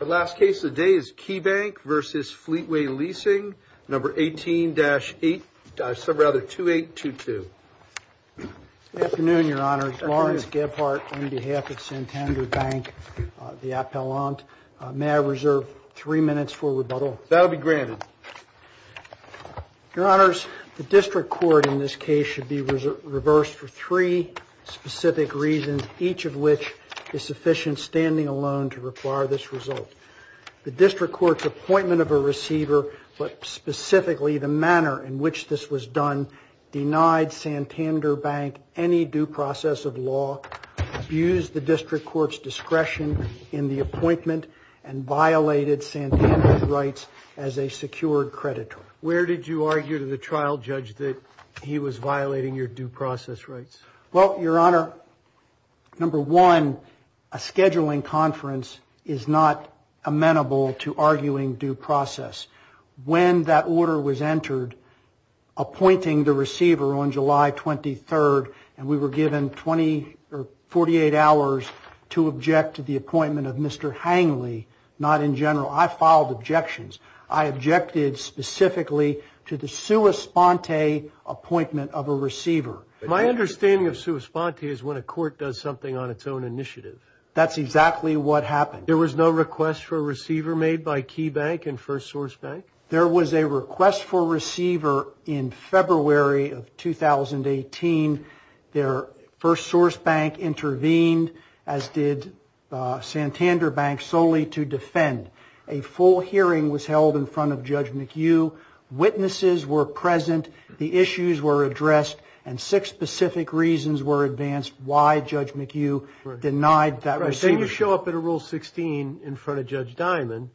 The last case of the day is Keybank v. Fleetway Leasing No. 18-2822. Good afternoon, Your Honor. Lawrence Gebhardt on behalf of Santander Bank, the Appellant. May I reserve three minutes for rebuttal? That will be granted. Your Honors, the District Court in this case should be reversed for three specific reasons, each of which is sufficient standing alone to require this result. The District Court's appointment of a receiver, but specifically the manner in which this was done, denied Santander Bank any due process of law, abused the District Court's discretion in the appointment, and violated Santander's rights as a secured creditor. Where did you argue to the trial judge that he was violating your due process rights? Well, Your Honor, number one, a scheduling conference is not amenable to arguing due process. When that order was entered, appointing the receiver on July 23rd, and we were given 48 hours to object to the appointment of Mr. Hangley, not in general. I filed objections. I objected specifically to the sua sponte appointment of a receiver. My understanding of sua sponte is when a court does something on its own initiative. That's exactly what happened. There was no request for a receiver made by Key Bank and First Source Bank? There was a request for a receiver in February of 2018. First Source Bank intervened, as did Santander Bank, solely to defend. A full hearing was held in front of Judge McHugh. Witnesses were present. The issues were addressed. And six specific reasons were advanced why Judge McHugh denied that receiver. Then you show up at a Rule 16 in front of Judge Dimon,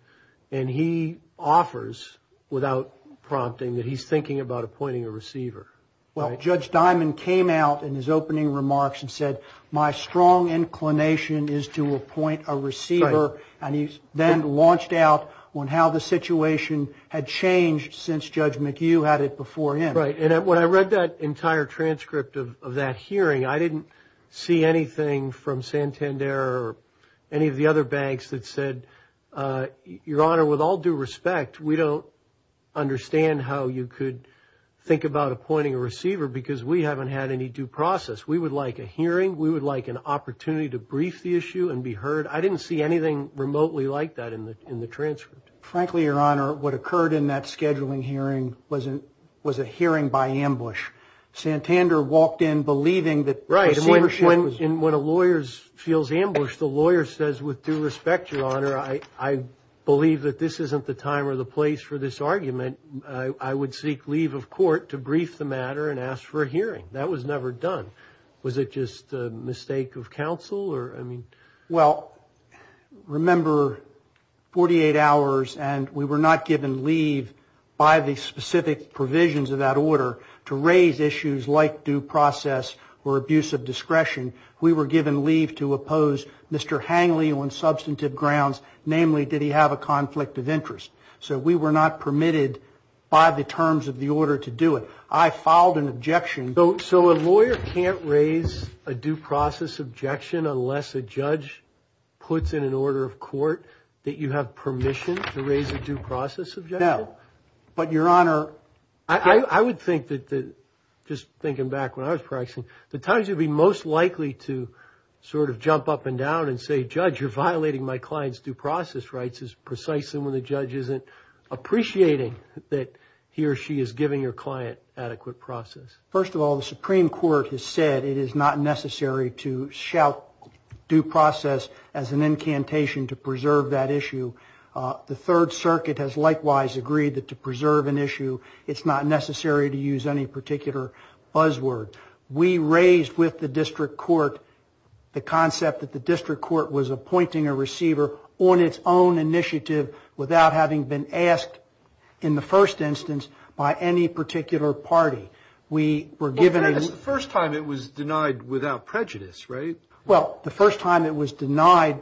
and he offers without prompting that he's thinking about appointing a receiver. Well, Judge Dimon came out in his opening remarks and said, my strong inclination is to appoint a receiver. And he then launched out on how the situation had changed since Judge McHugh had it before him. Right. And when I read that entire transcript of that hearing, I didn't see anything from Santander or any of the other banks that said, Your Honor, with all due respect, we don't understand how you could think about appointing a receiver because we haven't had any due process. We would like a hearing. We would like an opportunity to brief the issue and be heard. I didn't see anything remotely like that in the transcript. Frankly, Your Honor, what occurred in that scheduling hearing wasn't was a hearing by ambush. Santander walked in believing that. Right. When a lawyer feels ambushed, the lawyer says, with due respect, Your Honor, I believe that this isn't the time or the place for this argument. I would seek leave of court to brief the matter and ask for a hearing. That was never done. Was it just a mistake of counsel? Well, remember, 48 hours and we were not given leave by the specific provisions of that order to raise issues like due process or abuse of discretion. We were given leave to oppose Mr. Hangley on substantive grounds. Namely, did he have a conflict of interest? So we were not permitted by the terms of the order to do it. I filed an objection. So a lawyer can't raise a due process objection. Unless a judge puts in an order of court that you have permission to raise a due process. No, but Your Honor, I would think that just thinking back when I was practicing, the times you'd be most likely to sort of jump up and down and say, Judge, you're violating my client's due process. Rights is precisely when the judge isn't appreciating that he or she is giving your client adequate process. First of all, the Supreme Court has said it is not necessary to shout due process as an incantation to preserve that issue. The Third Circuit has likewise agreed that to preserve an issue, it's not necessary to use any particular buzzword. We raised with the district court the concept that the district court was appointing a receiver on its own initiative without having been asked in the first instance by any particular party. We were given. The first time it was denied without prejudice, right? Well, the first time it was denied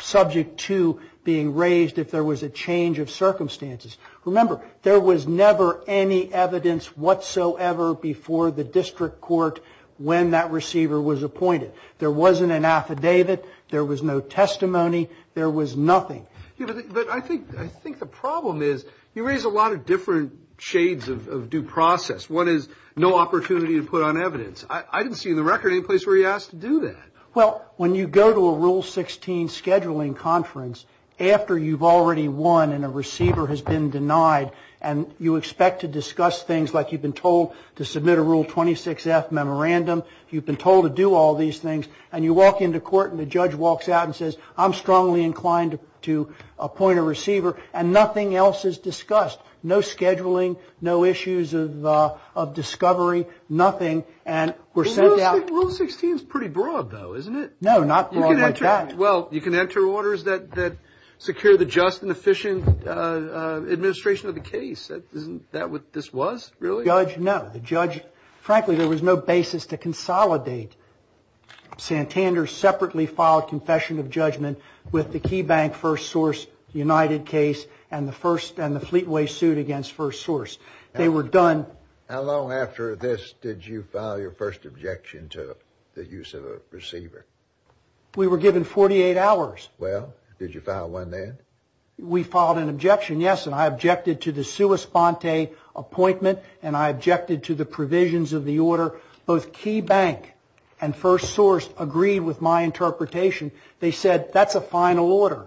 subject to being raised if there was a change of circumstances. Remember, there was never any evidence whatsoever before the district court when that receiver was appointed. There wasn't an affidavit. There was no testimony. There was nothing. But I think the problem is you raise a lot of different shades of due process. One is no opportunity to put on evidence. I didn't see in the record any place where he asked to do that. Well, when you go to a Rule 16 scheduling conference after you've already won and a receiver has been denied and you expect to discuss things like you've been told to submit a Rule 26F memorandum, you've been told to do all these things, and you walk into court and the judge walks out and says, I'm strongly inclined to appoint a receiver, and nothing else is discussed. No scheduling, no issues of discovery, nothing, and we're sent out. Rule 16 is pretty broad, though, isn't it? No, not broad like that. Well, you can enter orders that secure the just and efficient administration of the case. Isn't that what this was, really? Judge, no. Frankly, there was no basis to consolidate Santander's separately filed confession of judgment with the Key Bank First Source United case and the Fleetway suit against First Source. They were done. How long after this did you file your first objection to the use of a receiver? We were given 48 hours. Well, did you file one then? We filed an objection, yes, and I objected to the sua sponte appointment and I objected to the provisions of the order. Both Key Bank and First Source agreed with my interpretation. They said, that's a final order.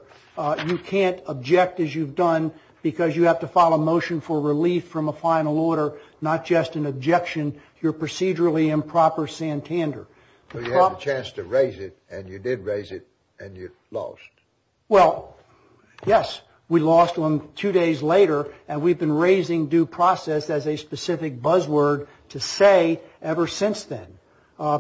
You can't object as you've done because you have to file a motion for relief from a final order, not just an objection to your procedurally improper Santander. So you had a chance to raise it, and you did raise it, and you lost. Well, yes, we lost one two days later, and we've been raising due process as a specific buzzword to say ever since then.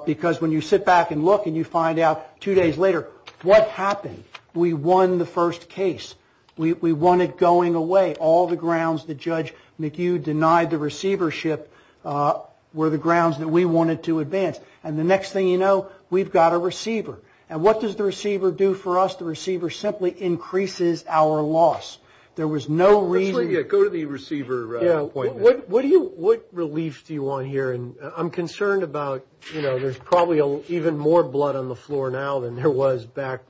Because when you sit back and look and you find out two days later, what happened? We won the first case. We won it going away. All the grounds that Judge McHugh denied the receivership were the grounds that we wanted to advance. And the next thing you know, we've got a receiver. And what does the receiver do for us? The receiver simply increases our loss. There was no reason. Go to the receiver appointment. What relief do you want here? I'm concerned about, you know, there's probably even more blood on the floor now than there was back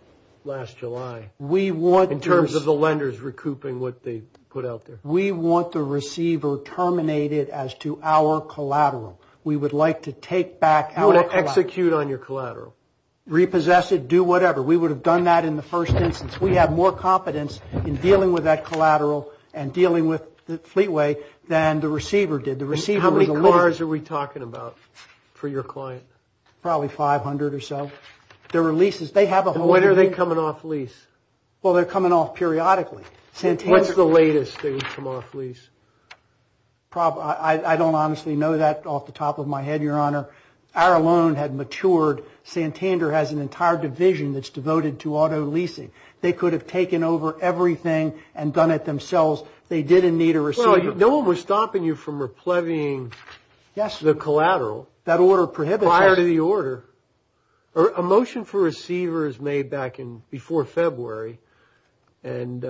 last July. In terms of the lenders recouping what they put out there. We want the receiver terminated as to our collateral. We would like to take back our collateral. Execute on your collateral. Repossess it, do whatever. We would have done that in the first instance. We have more competence in dealing with that collateral and dealing with the Fleetway than the receiver did. How many cars are we talking about for your client? Probably 500 or so. When are they coming off lease? Well, they're coming off periodically. What's the latest thing that's come off lease? I don't honestly know that off the top of my head, Your Honor. Our loan had matured. Santander has an entire division that's devoted to auto leasing. They could have taken over everything and done it themselves. They didn't need a receiver. Well, no one was stopping you from repleving the collateral prior to the order. A motion for a receiver is made back in before February. And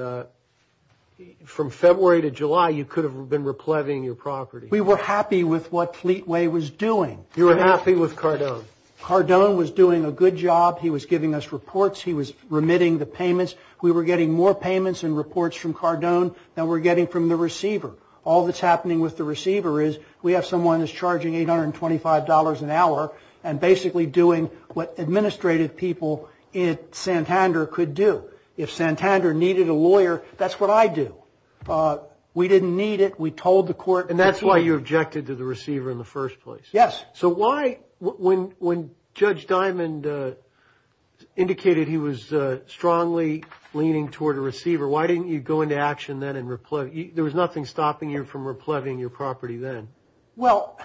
from February to July, you could have been repleving your property. We were happy with what Fleetway was doing. You were happy with Cardone. Cardone was doing a good job. He was giving us reports. He was remitting the payments. We were getting more payments and reports from Cardone than we're getting from the receiver. All that's happening with the receiver is we have someone that's charging $825 an hour and basically doing what administrative people at Santander could do. If Santander needed a lawyer, that's what I'd do. We didn't need it. We told the court before. And that's why you objected to the receiver in the first place. Yes. So why, when Judge Diamond indicated he was strongly leaning toward a receiver, why didn't you go into action then and repleve? There was nothing stopping you from repleving your property then. Well,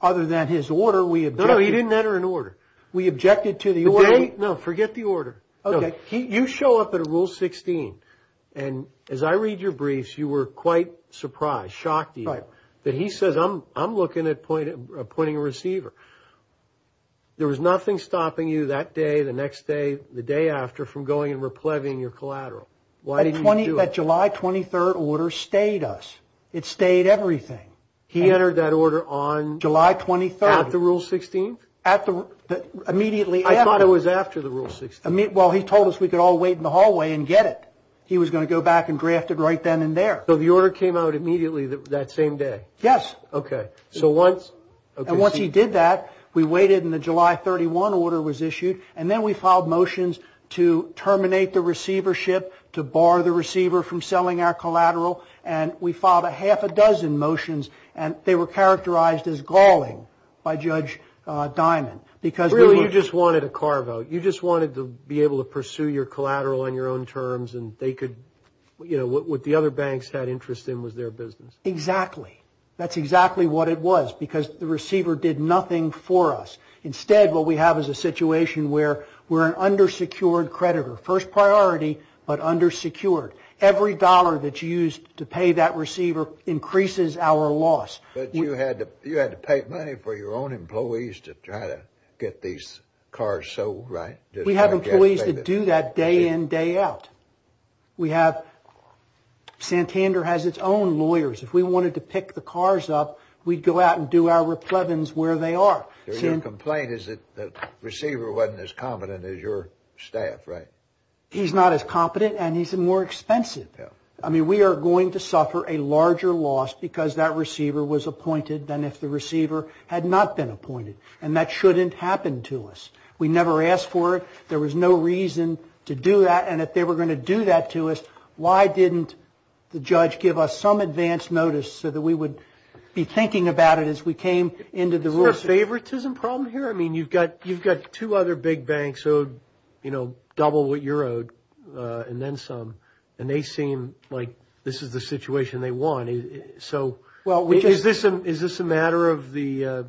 other than his order, we objected. No, no, he didn't enter an order. We objected to the order. No, forget the order. Okay. You show up at a Rule 16. And as I read your briefs, you were quite surprised, shocked even, that he says, I'm looking at appointing a receiver. There was nothing stopping you that day, the next day, the day after, from going and repleving your collateral. Why didn't you do it? That July 23rd order stayed us. It stayed everything. He entered that order on? July 23rd. At the Rule 16th? Immediately after. I thought it was after the Rule 16th. Well, he told us we could all wait in the hallway and get it. He was going to go back and draft it right then and there. So the order came out immediately that same day? Yes. Okay. And once he did that, we waited and the July 31 order was issued, and then we filed motions to terminate the receivership, to bar the receiver from selling our collateral, and we filed a half a dozen motions, and they were characterized as galling by Judge Diamond. Really, you just wanted a car vote. You just wanted to be able to pursue your collateral on your own terms and they could, you know, what the other banks had interest in was their business. Exactly. That's exactly what it was because the receiver did nothing for us. Instead, what we have is a situation where we're an undersecured creditor. First priority, but undersecured. Every dollar that you used to pay that receiver increases our loss. But you had to pay money for your own employees to try to get these cars sold, right? We have employees that do that day in, day out. Santander has its own lawyers. If we wanted to pick the cars up, we'd go out and do our replevins where they are. Your complaint is that the receiver wasn't as competent as your staff, right? He's not as competent and he's more expensive. I mean, we are going to suffer a larger loss because that receiver was appointed than if the receiver had not been appointed. And that shouldn't happen to us. We never asked for it. There was no reason to do that. And if they were going to do that to us, why didn't the judge give us some advance notice so that we would be thinking about it as we came into the rules? Is there a favoritism problem here? I mean, you've got two other big banks owed double what you're owed and then some, and they seem like this is the situation they want. So is this a matter of the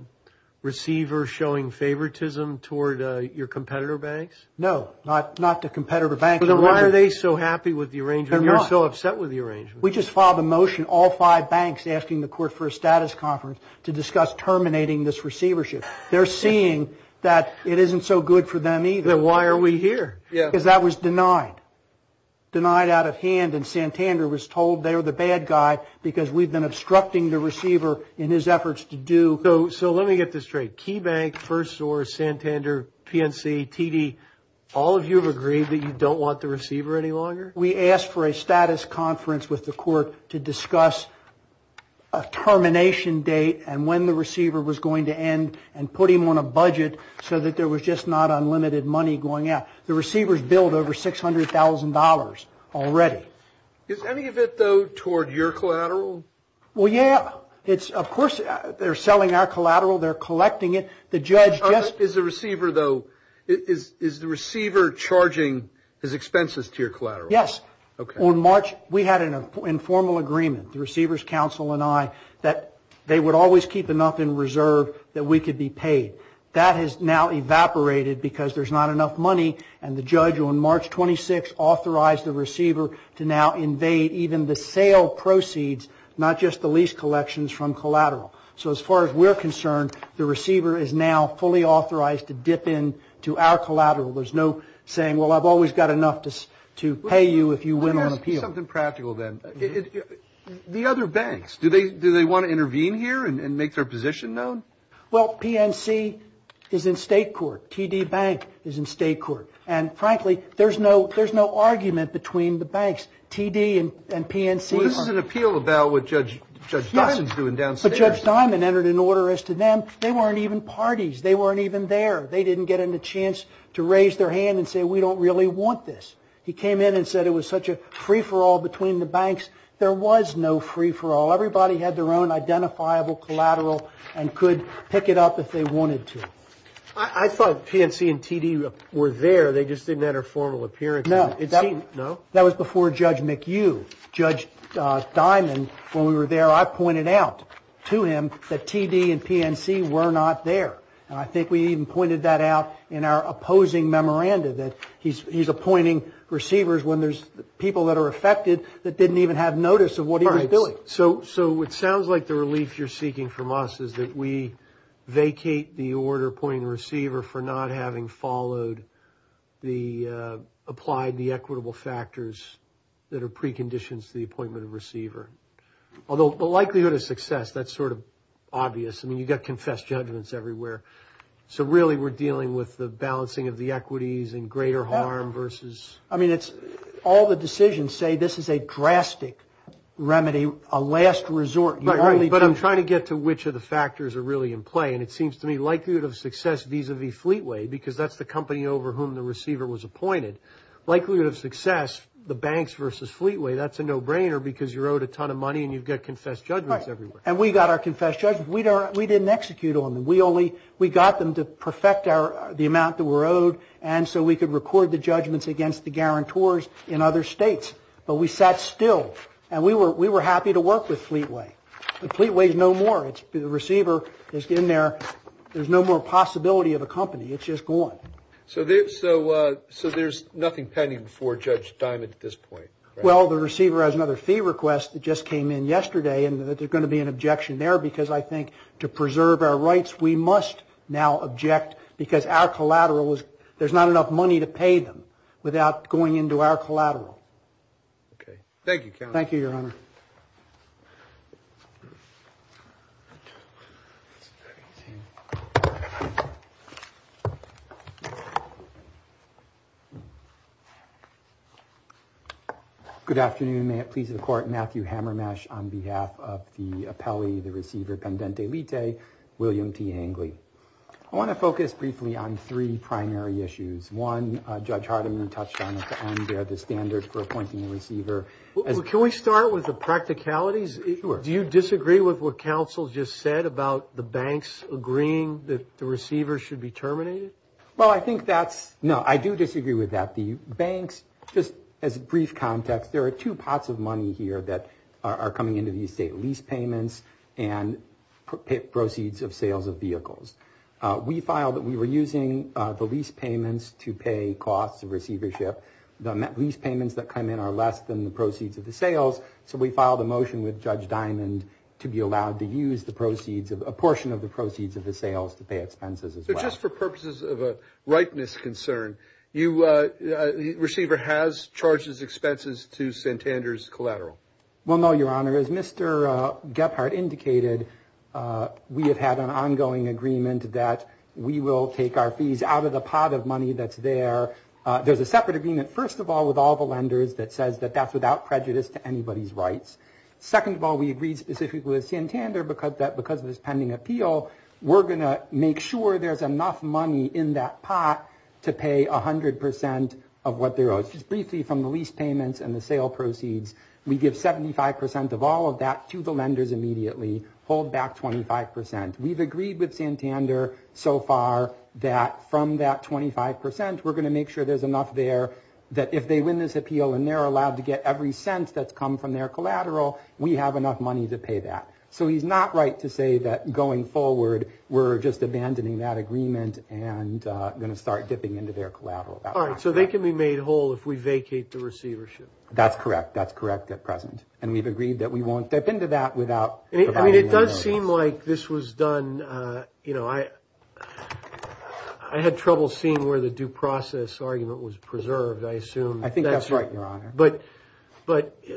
receiver showing favoritism toward your competitor banks? No, not the competitor banks. Then why are they so happy with the arrangement and you're so upset with the arrangement? We just filed a motion, all five banks, asking the court for a status conference to discuss terminating this receivership. They're seeing that it isn't so good for them either. Then why are we here? Because that was denied. Denied out of hand and Santander was told they were the bad guy because we've been obstructing the receiver in his efforts to do. So let me get this straight. Key Bank, First Source, Santander, PNC, TD, all of you have agreed that you don't want the receiver any longer? We asked for a status conference with the court to discuss a termination date and when the receiver was going to end and put him on a budget so that there was just not unlimited money going out. The receivers billed over $600,000 already. Is any of it, though, toward your collateral? Well, yeah. Of course they're selling our collateral. They're collecting it. Is the receiver charging his expenses to your collateral? Yes. On March we had an informal agreement, the receivers council and I, that they would always keep enough in reserve that we could be paid. That has now evaporated because there's not enough money and the judge on March 26 authorized the receiver to now invade even the sale proceeds, not just the lease collections from collateral. So as far as we're concerned, the receiver is now fully authorized to dip in to our collateral. There's no saying, well, I've always got enough to pay you if you win on appeal. Let me ask you something practical then. The other banks, do they want to intervene here and make their position known? Well, PNC is in state court. TD Bank is in state court. And, frankly, there's no argument between the banks. TD and PNC are. Well, this is an appeal about what Judge Dawson's doing downstairs. But Judge Diamond entered an order as to them. They weren't even parties. They weren't even there. They didn't get a chance to raise their hand and say, we don't really want this. He came in and said it was such a free-for-all between the banks. There was no free-for-all. Everybody had their own identifiable collateral and could pick it up if they wanted to. I thought PNC and TD were there. They just didn't have their formal appearance. No. That was before Judge McHugh. Judge Diamond, when we were there, I pointed out to him that TD and PNC were not there. And I think we even pointed that out in our opposing memoranda that he's appointing receivers when there's people that are affected that didn't even have notice of what he was doing. All right. So it sounds like the relief you're seeking from us is that we vacate the order appointing the receiver for not having followed the applied, the equitable factors that are preconditions to the appointment of receiver. Although the likelihood of success, that's sort of obvious. I mean, you've got confessed judgments everywhere. So really we're dealing with the balancing of the equities and greater harm versus. I mean, all the decisions say this is a drastic remedy, a last resort. But I'm trying to get to which of the factors are really in play. And it seems to me likelihood of success vis-a-vis Fleetway, because that's the company over whom the receiver was appointed, likelihood of success, the banks versus Fleetway, that's a no-brainer because you're owed a ton of money and you've got confessed judgments everywhere. Right. And we got our confessed judgments. We didn't execute on them. We only, we got them to perfect the amount that we're owed and so we could record the judgments against the guarantors in other states. But we sat still and we were happy to work with Fleetway. Fleetway is no more. The receiver is in there. There's no more possibility of a company. It's just gone. So there's nothing pending before Judge Diamond at this point? Well, the receiver has another fee request that just came in yesterday and there's going to be an objection there because I think to preserve our rights, we must now object because our collateral is, there's not enough money to pay them without going into our collateral. Okay. Thank you, counsel. Thank you, Your Honor. Thank you. Good afternoon. May it please the Court, Matthew Hammermesh on behalf of the appellee, the receiver, Pendente Litte, William T. Angley. I want to focus briefly on three primary issues. One, Judge Hardiman touched on at the end, the standard for appointing a receiver. Well, can we start with the practicalities? Sure. Do you disagree with what counsel just said about the banks agreeing that the receiver should be terminated? Well, I think that's, no, I do disagree with that. The banks, just as a brief context, there are two pots of money here that are coming into the estate, lease payments and proceeds of sales of vehicles. We filed that we were using the lease payments to pay costs of receivership. The lease payments that come in are less than the proceeds of the sales, so we filed a motion with Judge Diamond to be allowed to use the proceeds, a portion of the proceeds of the sales to pay expenses as well. So just for purposes of a ripeness concern, the receiver has charged his expenses to Santander's collateral? Well, no, Your Honor. As Mr. Gephardt indicated, we have had an ongoing agreement that we will take our fees out of the pot of money that's there. There's a separate agreement, first of all, with all the lenders that says that that's without prejudice to anybody's rights. Second of all, we agreed specifically with Santander that because of this pending appeal, we're going to make sure there's enough money in that pot to pay 100 percent of what they're owed. Just briefly, from the lease payments and the sale proceeds, we give 75 percent of all of that to the lenders immediately, hold back 25 percent. We've agreed with Santander so far that from that 25 percent, we're going to make sure there's enough there that if they win this appeal and they're allowed to get every cent that's come from their collateral, we have enough money to pay that. So he's not right to say that going forward, we're just abandoning that agreement and going to start dipping into their collateral. All right. So they can be made whole if we vacate the receivership? That's correct. That's correct at present. And we've agreed that we won't dip into that without providing any money. I mean, it does seem like this was done, you know, I had trouble seeing where the due process argument was preserved, I assume. I think that's right, Your Honor. But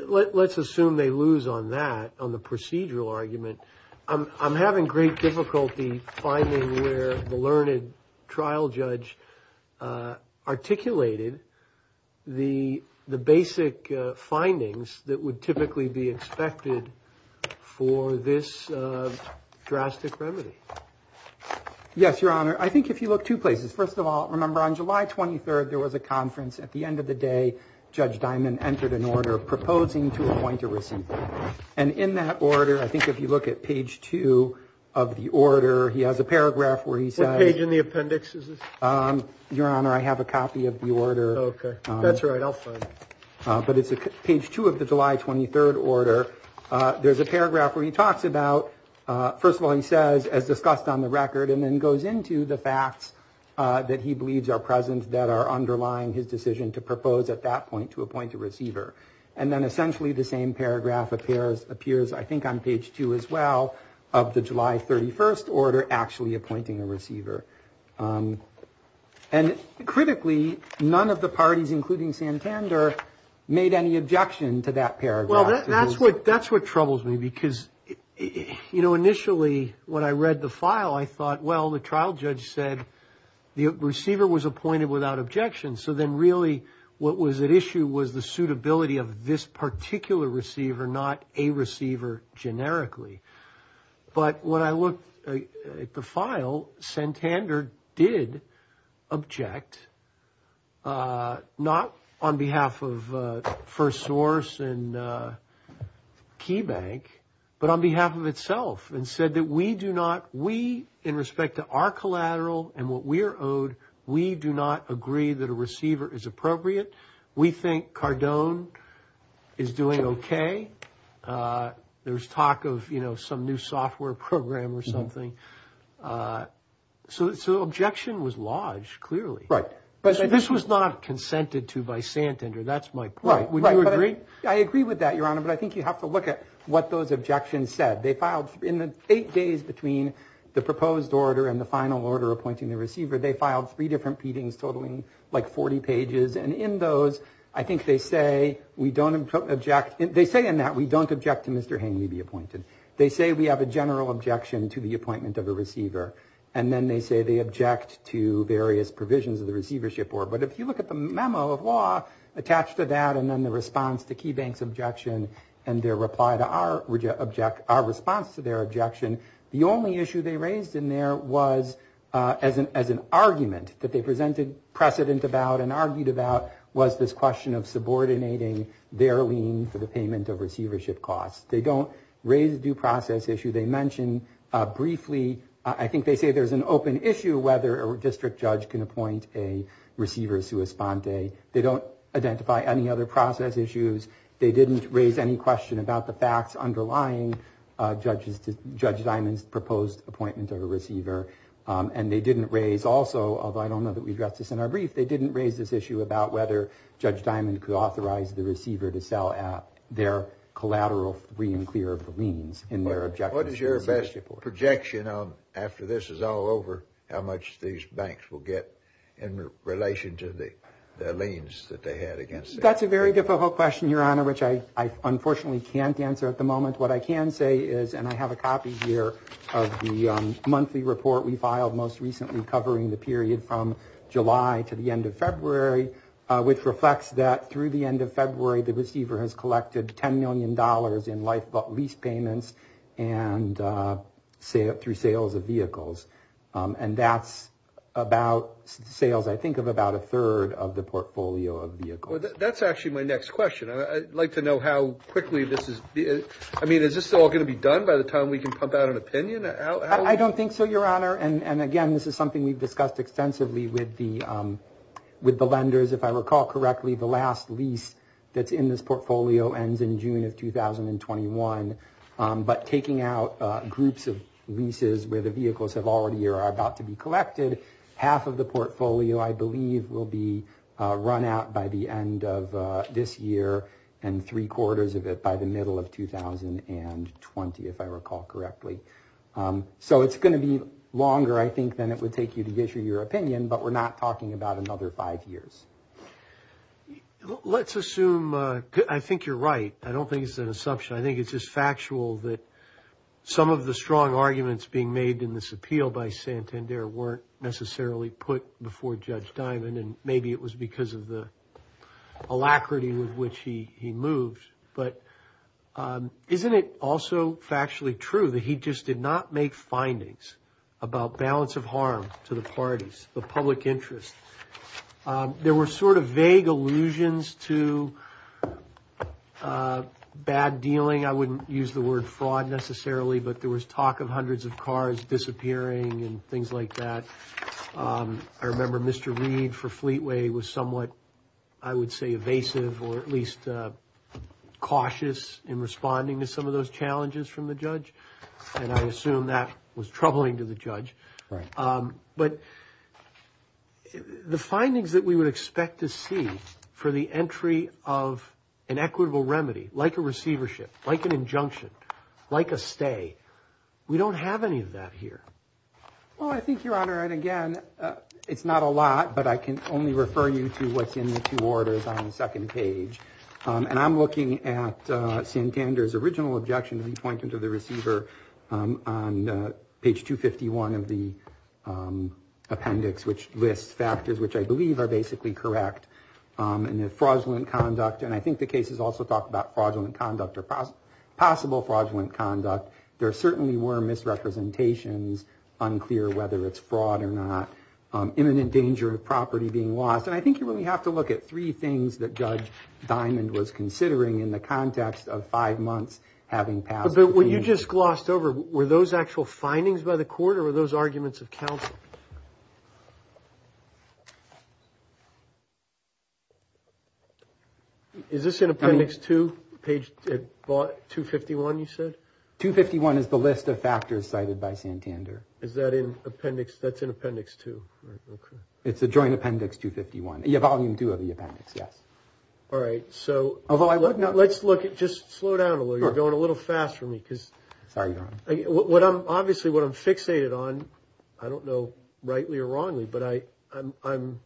let's assume they lose on that, on the procedural argument. I'm having great difficulty finding where the learned trial judge articulated the basic findings that would typically be expected for this drastic remedy. Yes, Your Honor. I think if you look two places, first of all, remember on July 23rd, there was a conference. At the end of the day, Judge Dimon entered an order proposing to appoint a receiver. And in that order, I think if you look at page two of the order, he has a paragraph where he says – What page in the appendix is this? Your Honor, I have a copy of the order. Okay. That's all right. But it's page two of the July 23rd order. There's a paragraph where he talks about – first of all, he says, as discussed on the record, and then goes into the facts that he believes are present that are underlying his decision to propose at that point to appoint a receiver. And then essentially the same paragraph appears, I think, on page two as well, of the July 31st order actually appointing a receiver. And critically, none of the parties, including Santander, made any objection to that paragraph. Well, that's what troubles me because, you know, initially when I read the file, I thought, well, the trial judge said the receiver was appointed without objection. So then really what was at issue was the suitability of this particular receiver, not a receiver generically. But when I looked at the file, Santander did object, not on behalf of FirstSource and KeyBank, but on behalf of itself and said that we do not – we, in respect to our collateral and what we are owed, we do not agree that a receiver is appropriate. We think Cardone is doing okay. There's talk of, you know, some new software program or something. So the objection was lodged, clearly. Right. This was not consented to by Santander. That's my point. Would you agree? I agree with that, Your Honor, but I think you have to look at what those objections said. They filed – in the eight days between the proposed order and the final order appointing the receiver, they filed three different pleadings totaling like 40 pages. And in those, I think they say we don't object – they say in that we don't object to Mr. Haney be appointed. They say we have a general objection to the appointment of a receiver. And then they say they object to various provisions of the receivership order. But if you look at the memo of law attached to that and then the response to KeyBank's objection and their reply to our response to their objection, the only issue they raised in there was as an argument that they presented precedent about and argued about was this question of subordinating their lien for the payment of receivership costs. They don't raise a due process issue. They mention briefly – I think they say there's an open issue whether a district judge can appoint a receiver sua sponte. They don't identify any other process issues. They didn't raise any question about the facts underlying Judge Diamond's proposed appointment of a receiver. And they didn't raise also – although I don't know that we addressed this in our brief – they didn't raise this issue about whether Judge Diamond could authorize the receiver to sell at their collateral free and clear of the liens in their objection to the receivership order. What is your best projection after this is all over how much these banks will get in relation to the liens that they had against them? That's a very difficult question, Your Honor, which I unfortunately can't answer at the moment. What I can say is – and I have a copy here of the monthly report we filed most recently covering the period from July to the end of February, which reflects that through the end of February the receiver has collected $10 million in lifeboat lease payments and through sales of vehicles. And that's about sales, I think, of about a third of the portfolio of vehicles. That's actually my next question. I'd like to know how quickly this is – I mean, is this all going to be done by the time we can pump out an opinion? I don't think so, Your Honor. And again, this is something we've discussed extensively with the lenders. If I recall correctly, the last lease that's in this portfolio ends in June of 2021. But taking out groups of leases where the vehicles have already or are about to be collected, half of the portfolio I believe will be run out by the end of this year and three-quarters of it by the middle of 2020, if I recall correctly. So it's going to be longer, I think, than it would take you to issue your opinion, but we're not talking about another five years. Let's assume – I think you're right. I don't think it's an assumption. I think it's just factual that some of the strong arguments being made in this appeal by Santander weren't necessarily put before Judge Diamond, and maybe it was because of the alacrity with which he moved. But isn't it also factually true that he just did not make findings about balance of harm to the parties, the public interest? There were sort of vague allusions to bad dealing. I wouldn't use the word fraud necessarily, but there was talk of hundreds of cars disappearing and things like that. I remember Mr. Reed for Fleetway was somewhat, I would say, evasive or at least cautious in responding to some of those challenges from the judge, and I assume that was troubling to the judge. But the findings that we would expect to see for the entry of an equitable remedy, like a receivership, like an injunction, like a stay, we don't have any of that here. Well, I think, Your Honor, and again, it's not a lot, but I can only refer you to what's in the two orders on the second page. And I'm looking at Santander's original objection that he pointed to the receiver on page 251 of the appendix, which lists factors which I believe are basically correct in the fraudulent conduct. And I think the cases also talk about fraudulent conduct or possible fraudulent conduct. There certainly were misrepresentations, unclear whether it's fraud or not, imminent danger of property being lost. And I think you really have to look at three things that Judge Diamond was considering in the context of five months having passed. But what you just glossed over, were those actual findings by the court or were those arguments of counsel? Is this in appendix two, page 251, you said? 251 is the list of factors cited by Santander. Is that in appendix, that's in appendix two. It's a joint appendix 251, volume two of the appendix, yes. All right, so let's look at, just slow down a little, you're going a little fast for me. Sorry, Your Honor. Obviously, what I'm fixated on, I don't know rightly or wrongly, but I'm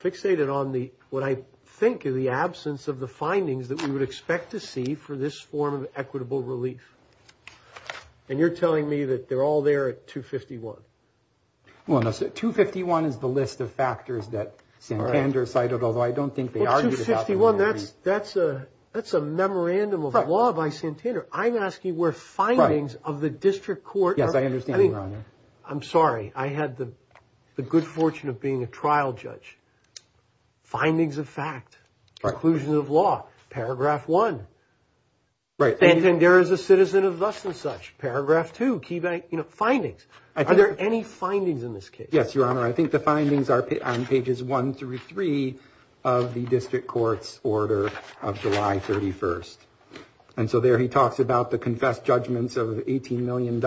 fixated on what I think of the absence of the findings that we would expect to see for this form of equitable relief. And you're telling me that they're all there at 251. Well, no, 251 is the list of factors that Santander cited, although I don't think they argued about them. Well, 251, that's a memorandum of law by Santander. I'm asking where findings of the district court are. Yes, I understand, Your Honor. I'm sorry, I had the good fortune of being a trial judge. Findings of fact, conclusions of law, paragraph one. Santander is a citizen of thus and such. Paragraph two, key findings. Are there any findings in this case? Yes, Your Honor. I think the findings are on pages one through three of the district court's order of July 31st. And so there he talks about the confessed judgments of $18 million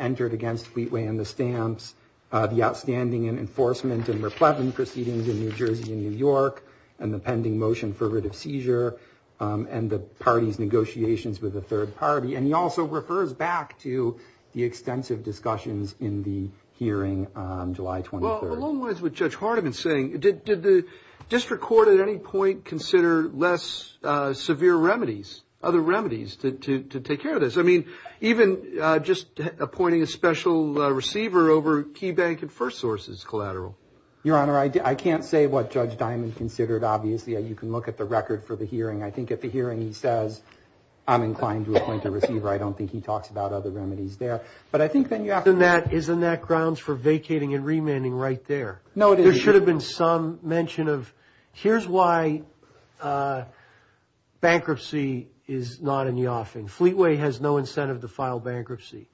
entered against Fleetway and the Stamps, the outstanding enforcement and replevant proceedings in New Jersey and New York, and the pending motion for writ of seizure, and the party's negotiations with the third party. And he also refers back to the extensive discussions in the hearing on July 23rd. Well, along the lines of what Judge Hardiman is saying, did the district court at any point consider less severe remedies, other remedies to take care of this? I mean, even just appointing a special receiver over Key Bank and FirstSource is collateral. Your Honor, I can't say what Judge Diamond considered. Obviously, you can look at the record for the hearing. I think at the hearing he says, I'm inclined to appoint a receiver. I don't think he talks about other remedies there. But I think then you have to. Isn't that grounds for vacating and remanding right there? No, it isn't. There should have been some mention of, here's why bankruptcy is not in the offing. Fleetway has no incentive to file bankruptcy.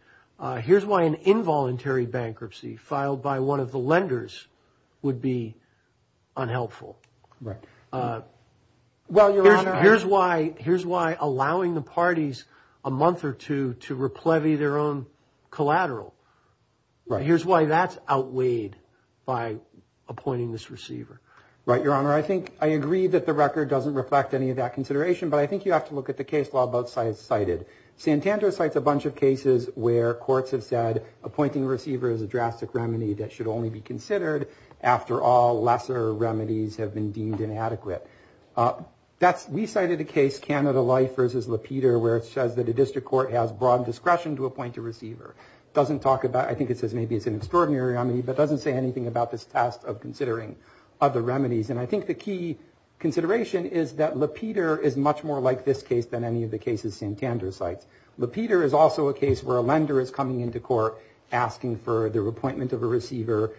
Here's why an involuntary bankruptcy filed by one of the lenders would be unhelpful. Here's why allowing the parties a month or two to replevy their own collateral. Here's why that's outweighed by appointing this receiver. Right, Your Honor. I think I agree that the record doesn't reflect any of that consideration, but I think you have to look at the case law both sides cited. Santander cites a bunch of cases where courts have said, appointing a receiver is a drastic remedy that should only be considered after all lesser remedies have been deemed inadequate. We cited a case, Canada Life v. LaPeter, where it says that a district court has broad discretion to appoint a receiver. It doesn't talk about, I think it says maybe it's an extraordinary remedy, but it doesn't say anything about this test of considering other remedies. I think the key consideration is that LaPeter is much more like this case than any of the cases Santander cites. LaPeter is also a case where a lender is coming into court asking for the appointment of a receiver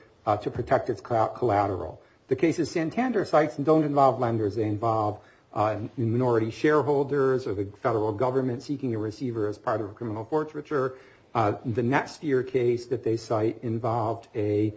to protect its collateral. The cases Santander cites don't involve lenders. They involve minority shareholders or the federal government seeking a receiver as part of a criminal forfeiture. The next year case that they cite involved a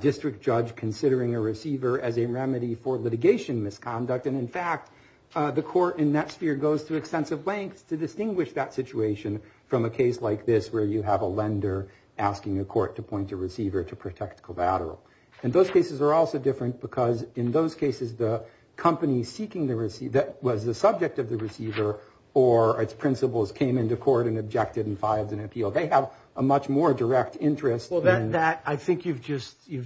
district judge considering a receiver as a remedy for litigation misconduct. In fact, the court in that sphere goes to extensive lengths to distinguish that situation from a case like this where you have a lender asking a court to appoint a receiver to protect collateral. Those cases are also different because in those cases, the company that was the subject of the receiver or its principals came into court and objected and filed an appeal. They have a much more direct interest. I think you've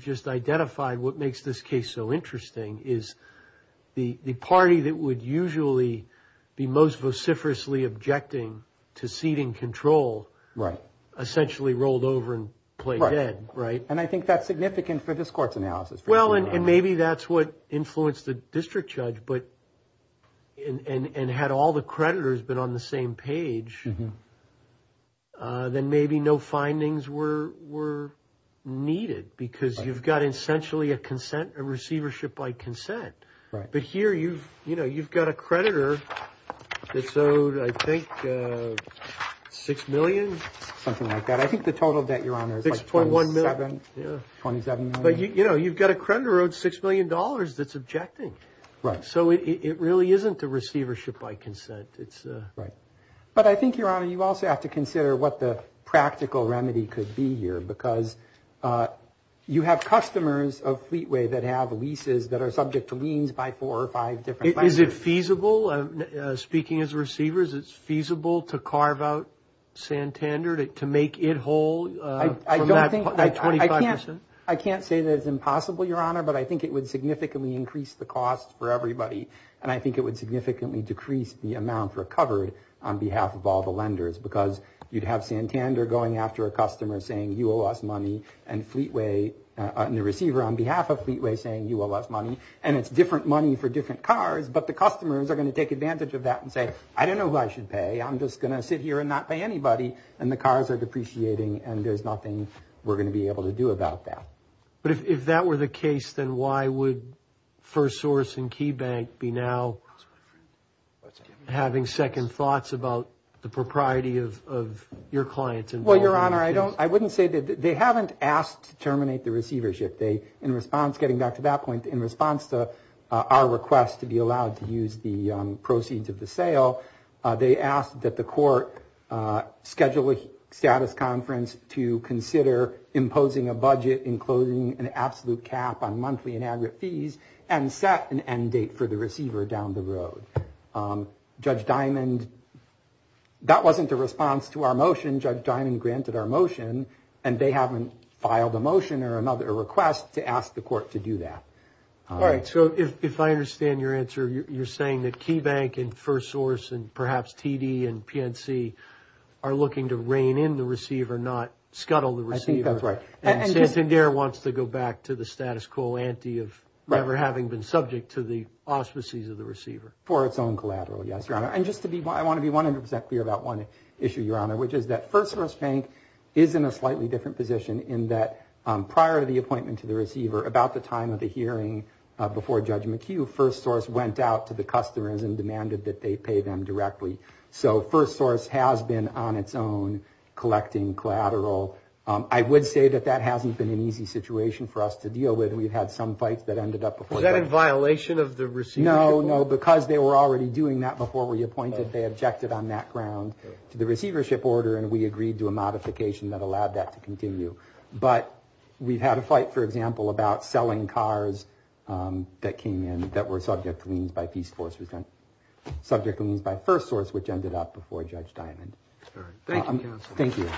just identified what makes this case so interesting is the party that would usually be most vociferously objecting to seating control essentially rolled over and played dead. I think that's significant for this court's analysis. Maybe that's what influenced the district judge. Had all the creditors been on the same page, then maybe no findings were needed because you've got essentially a receivership by consent. But here you've got a creditor that's owed, I think, $6 million. Something like that. I think the total debt, Your Honor, is like $27 million. But you've got a creditor owed $6 million that's objecting. So it really isn't a receivership by consent. But I think, Your Honor, you also have to consider what the practical remedy could be here because you have customers of Fleetway that have leases that are subject to liens by four or five different lenders. Is it feasible, speaking as a receiver, is it feasible to carve out Santander, to make it whole from that 25%? I can't say that it's impossible, Your Honor, but I think it would significantly increase the cost for everybody. And I think it would significantly decrease the amount recovered on behalf of all the lenders because you'd have Santander going after a customer saying, you owe us money, and Fleetway, and the receiver on behalf of Fleetway saying, you owe us money. And it's different money for different cars, but the customers are going to take advantage of that and say, I don't know who I should pay. I'm just going to sit here and not pay anybody. And the cars are depreciating, and there's nothing we're going to be able to do about that. But if that were the case, then why would FirstSource and KeyBank be now having second thoughts about the propriety of your clients? Well, Your Honor, I wouldn't say that. They haven't asked to terminate the receivership. In response, getting back to that point, in response to our request to be allowed to use the proceeds of the sale, they asked that the court schedule a status conference to consider imposing a budget including an absolute cap on monthly and aggregate fees and set an end date for the receiver down the road. Judge Diamond, that wasn't a response to our motion. Judge Diamond granted our motion, and they haven't filed a motion or a request to ask the court to do that. All right. So if I understand your answer, you're saying that KeyBank and FirstSource and perhaps TD and PNC are looking to rein in the receiver, not scuttle the receiver. I think that's right. And Sincindere wants to go back to the status quo ante of never having been subject to the auspices of the receiver. For its own collateral, yes, Your Honor. And just to be, I want to be 100% clear about one issue, Your Honor, which is that FirstSource Bank is in a slightly different position in that prior to the appointment to the receiver, about the time of the hearing before Judge McHugh, FirstSource went out to the customers and demanded that they pay them directly. So FirstSource has been on its own collecting collateral. I would say that that hasn't been an easy situation for us to deal with. We've had some fights that ended up before the court. Was that in violation of the receivership order? No, no, because they were already doing that before we appointed, they objected on that ground to the receivership order, and we agreed to a modification that allowed that to continue. But we've had a fight, for example, about selling cars that came in that were subject to liens by FirstSource which ended up before Judge Diamond. Thank you, counsel. Thank you.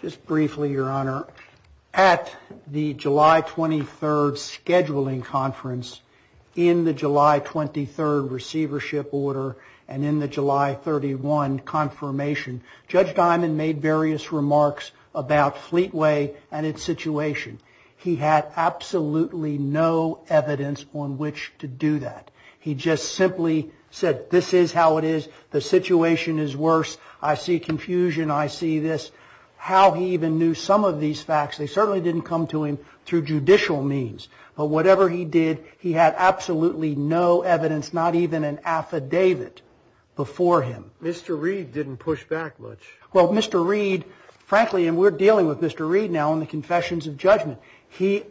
Just briefly, Your Honor, at the July 23rd scheduling conference, in the July 23rd receivership order and in the July 31 confirmation, Judge Diamond made various remarks about Fleetway and its situation. He had absolutely no evidence on which to do that. He just simply said this is how it is, the situation is worse, I see confusion, I see this. How he even knew some of these facts, they certainly didn't come to him through judicial means. But whatever he did, he had absolutely no evidence, not even an affidavit before him. Mr. Reed didn't push back much. Well, Mr. Reed, frankly, and we're dealing with Mr. Reed now in the confessions of judgment. I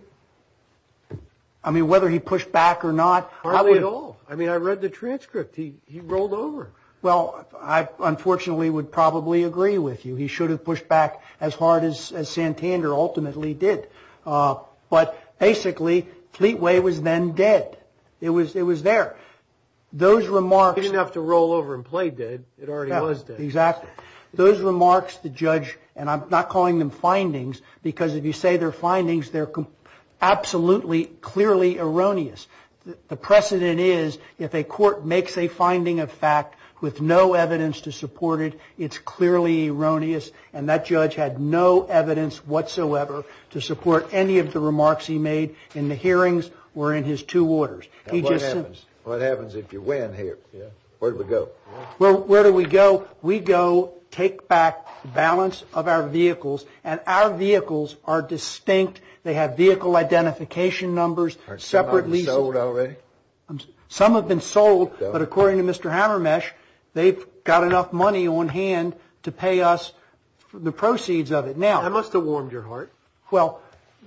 mean, whether he pushed back or not. Hardly at all. I mean, I read the transcript. He rolled over. Well, I unfortunately would probably agree with you. He should have pushed back as hard as Santander ultimately did. But basically, Fleetway was then dead. It was there. He didn't have to roll over and play dead. It already was dead. Exactly. Those remarks, the judge, and I'm not calling them findings, because if you say they're findings, they're absolutely clearly erroneous. The precedent is if a court makes a finding of fact with no evidence to support it, it's clearly erroneous. And that judge had no evidence whatsoever to support any of the remarks he made in the hearings or in his two orders. What happens if you win here? Where do we go? Well, where do we go? We go take back the balance of our vehicles, and our vehicles are distinct. They have vehicle identification numbers separately. Are some of them sold already? Some have been sold, but according to Mr. Hammermesh, they've got enough money on hand to pay us the proceeds of it. That must have warmed your heart.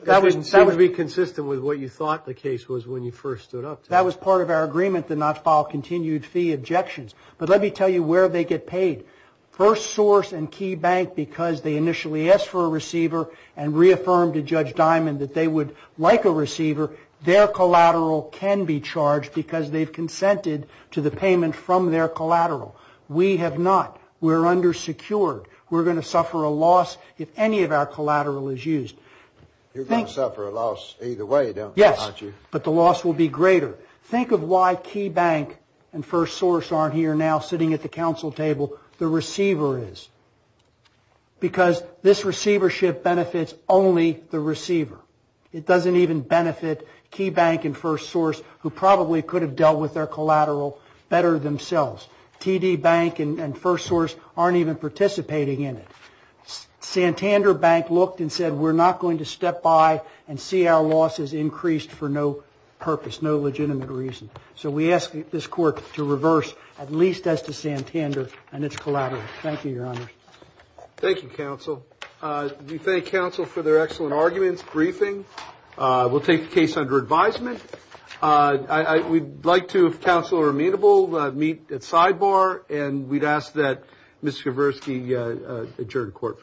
That didn't seem to be consistent with what you thought the case was when you first stood up to it. That was part of our agreement to not file continued fee objections. But let me tell you where they get paid. First Source and Key Bank, because they initially asked for a receiver and reaffirmed to Judge Diamond that they would like a receiver, their collateral can be charged because they've consented to the payment from their collateral. We have not. We're undersecured. We're going to suffer a loss if any of our collateral is used. You're going to suffer a loss either way, don't you? Yes, but the loss will be greater. Think of why Key Bank and First Source aren't here now sitting at the council table, the receiver is, because this receivership benefits only the receiver. It doesn't even benefit Key Bank and First Source, who probably could have dealt with their collateral better themselves. TD Bank and First Source aren't even participating in it. Santander Bank looked and said, we're not going to step by and see our losses increased for no purpose, no legitimate reason. So we ask this court to reverse at least as to Santander and its collateral. Thank you, Your Honor. Thank you, Counsel. We thank Counsel for their excellent arguments, briefing. We'll take the case under advisement. We'd like to, if Counsel are amenable, meet at sidebar, and we'd ask that Ms. Kavursky adjourn the court.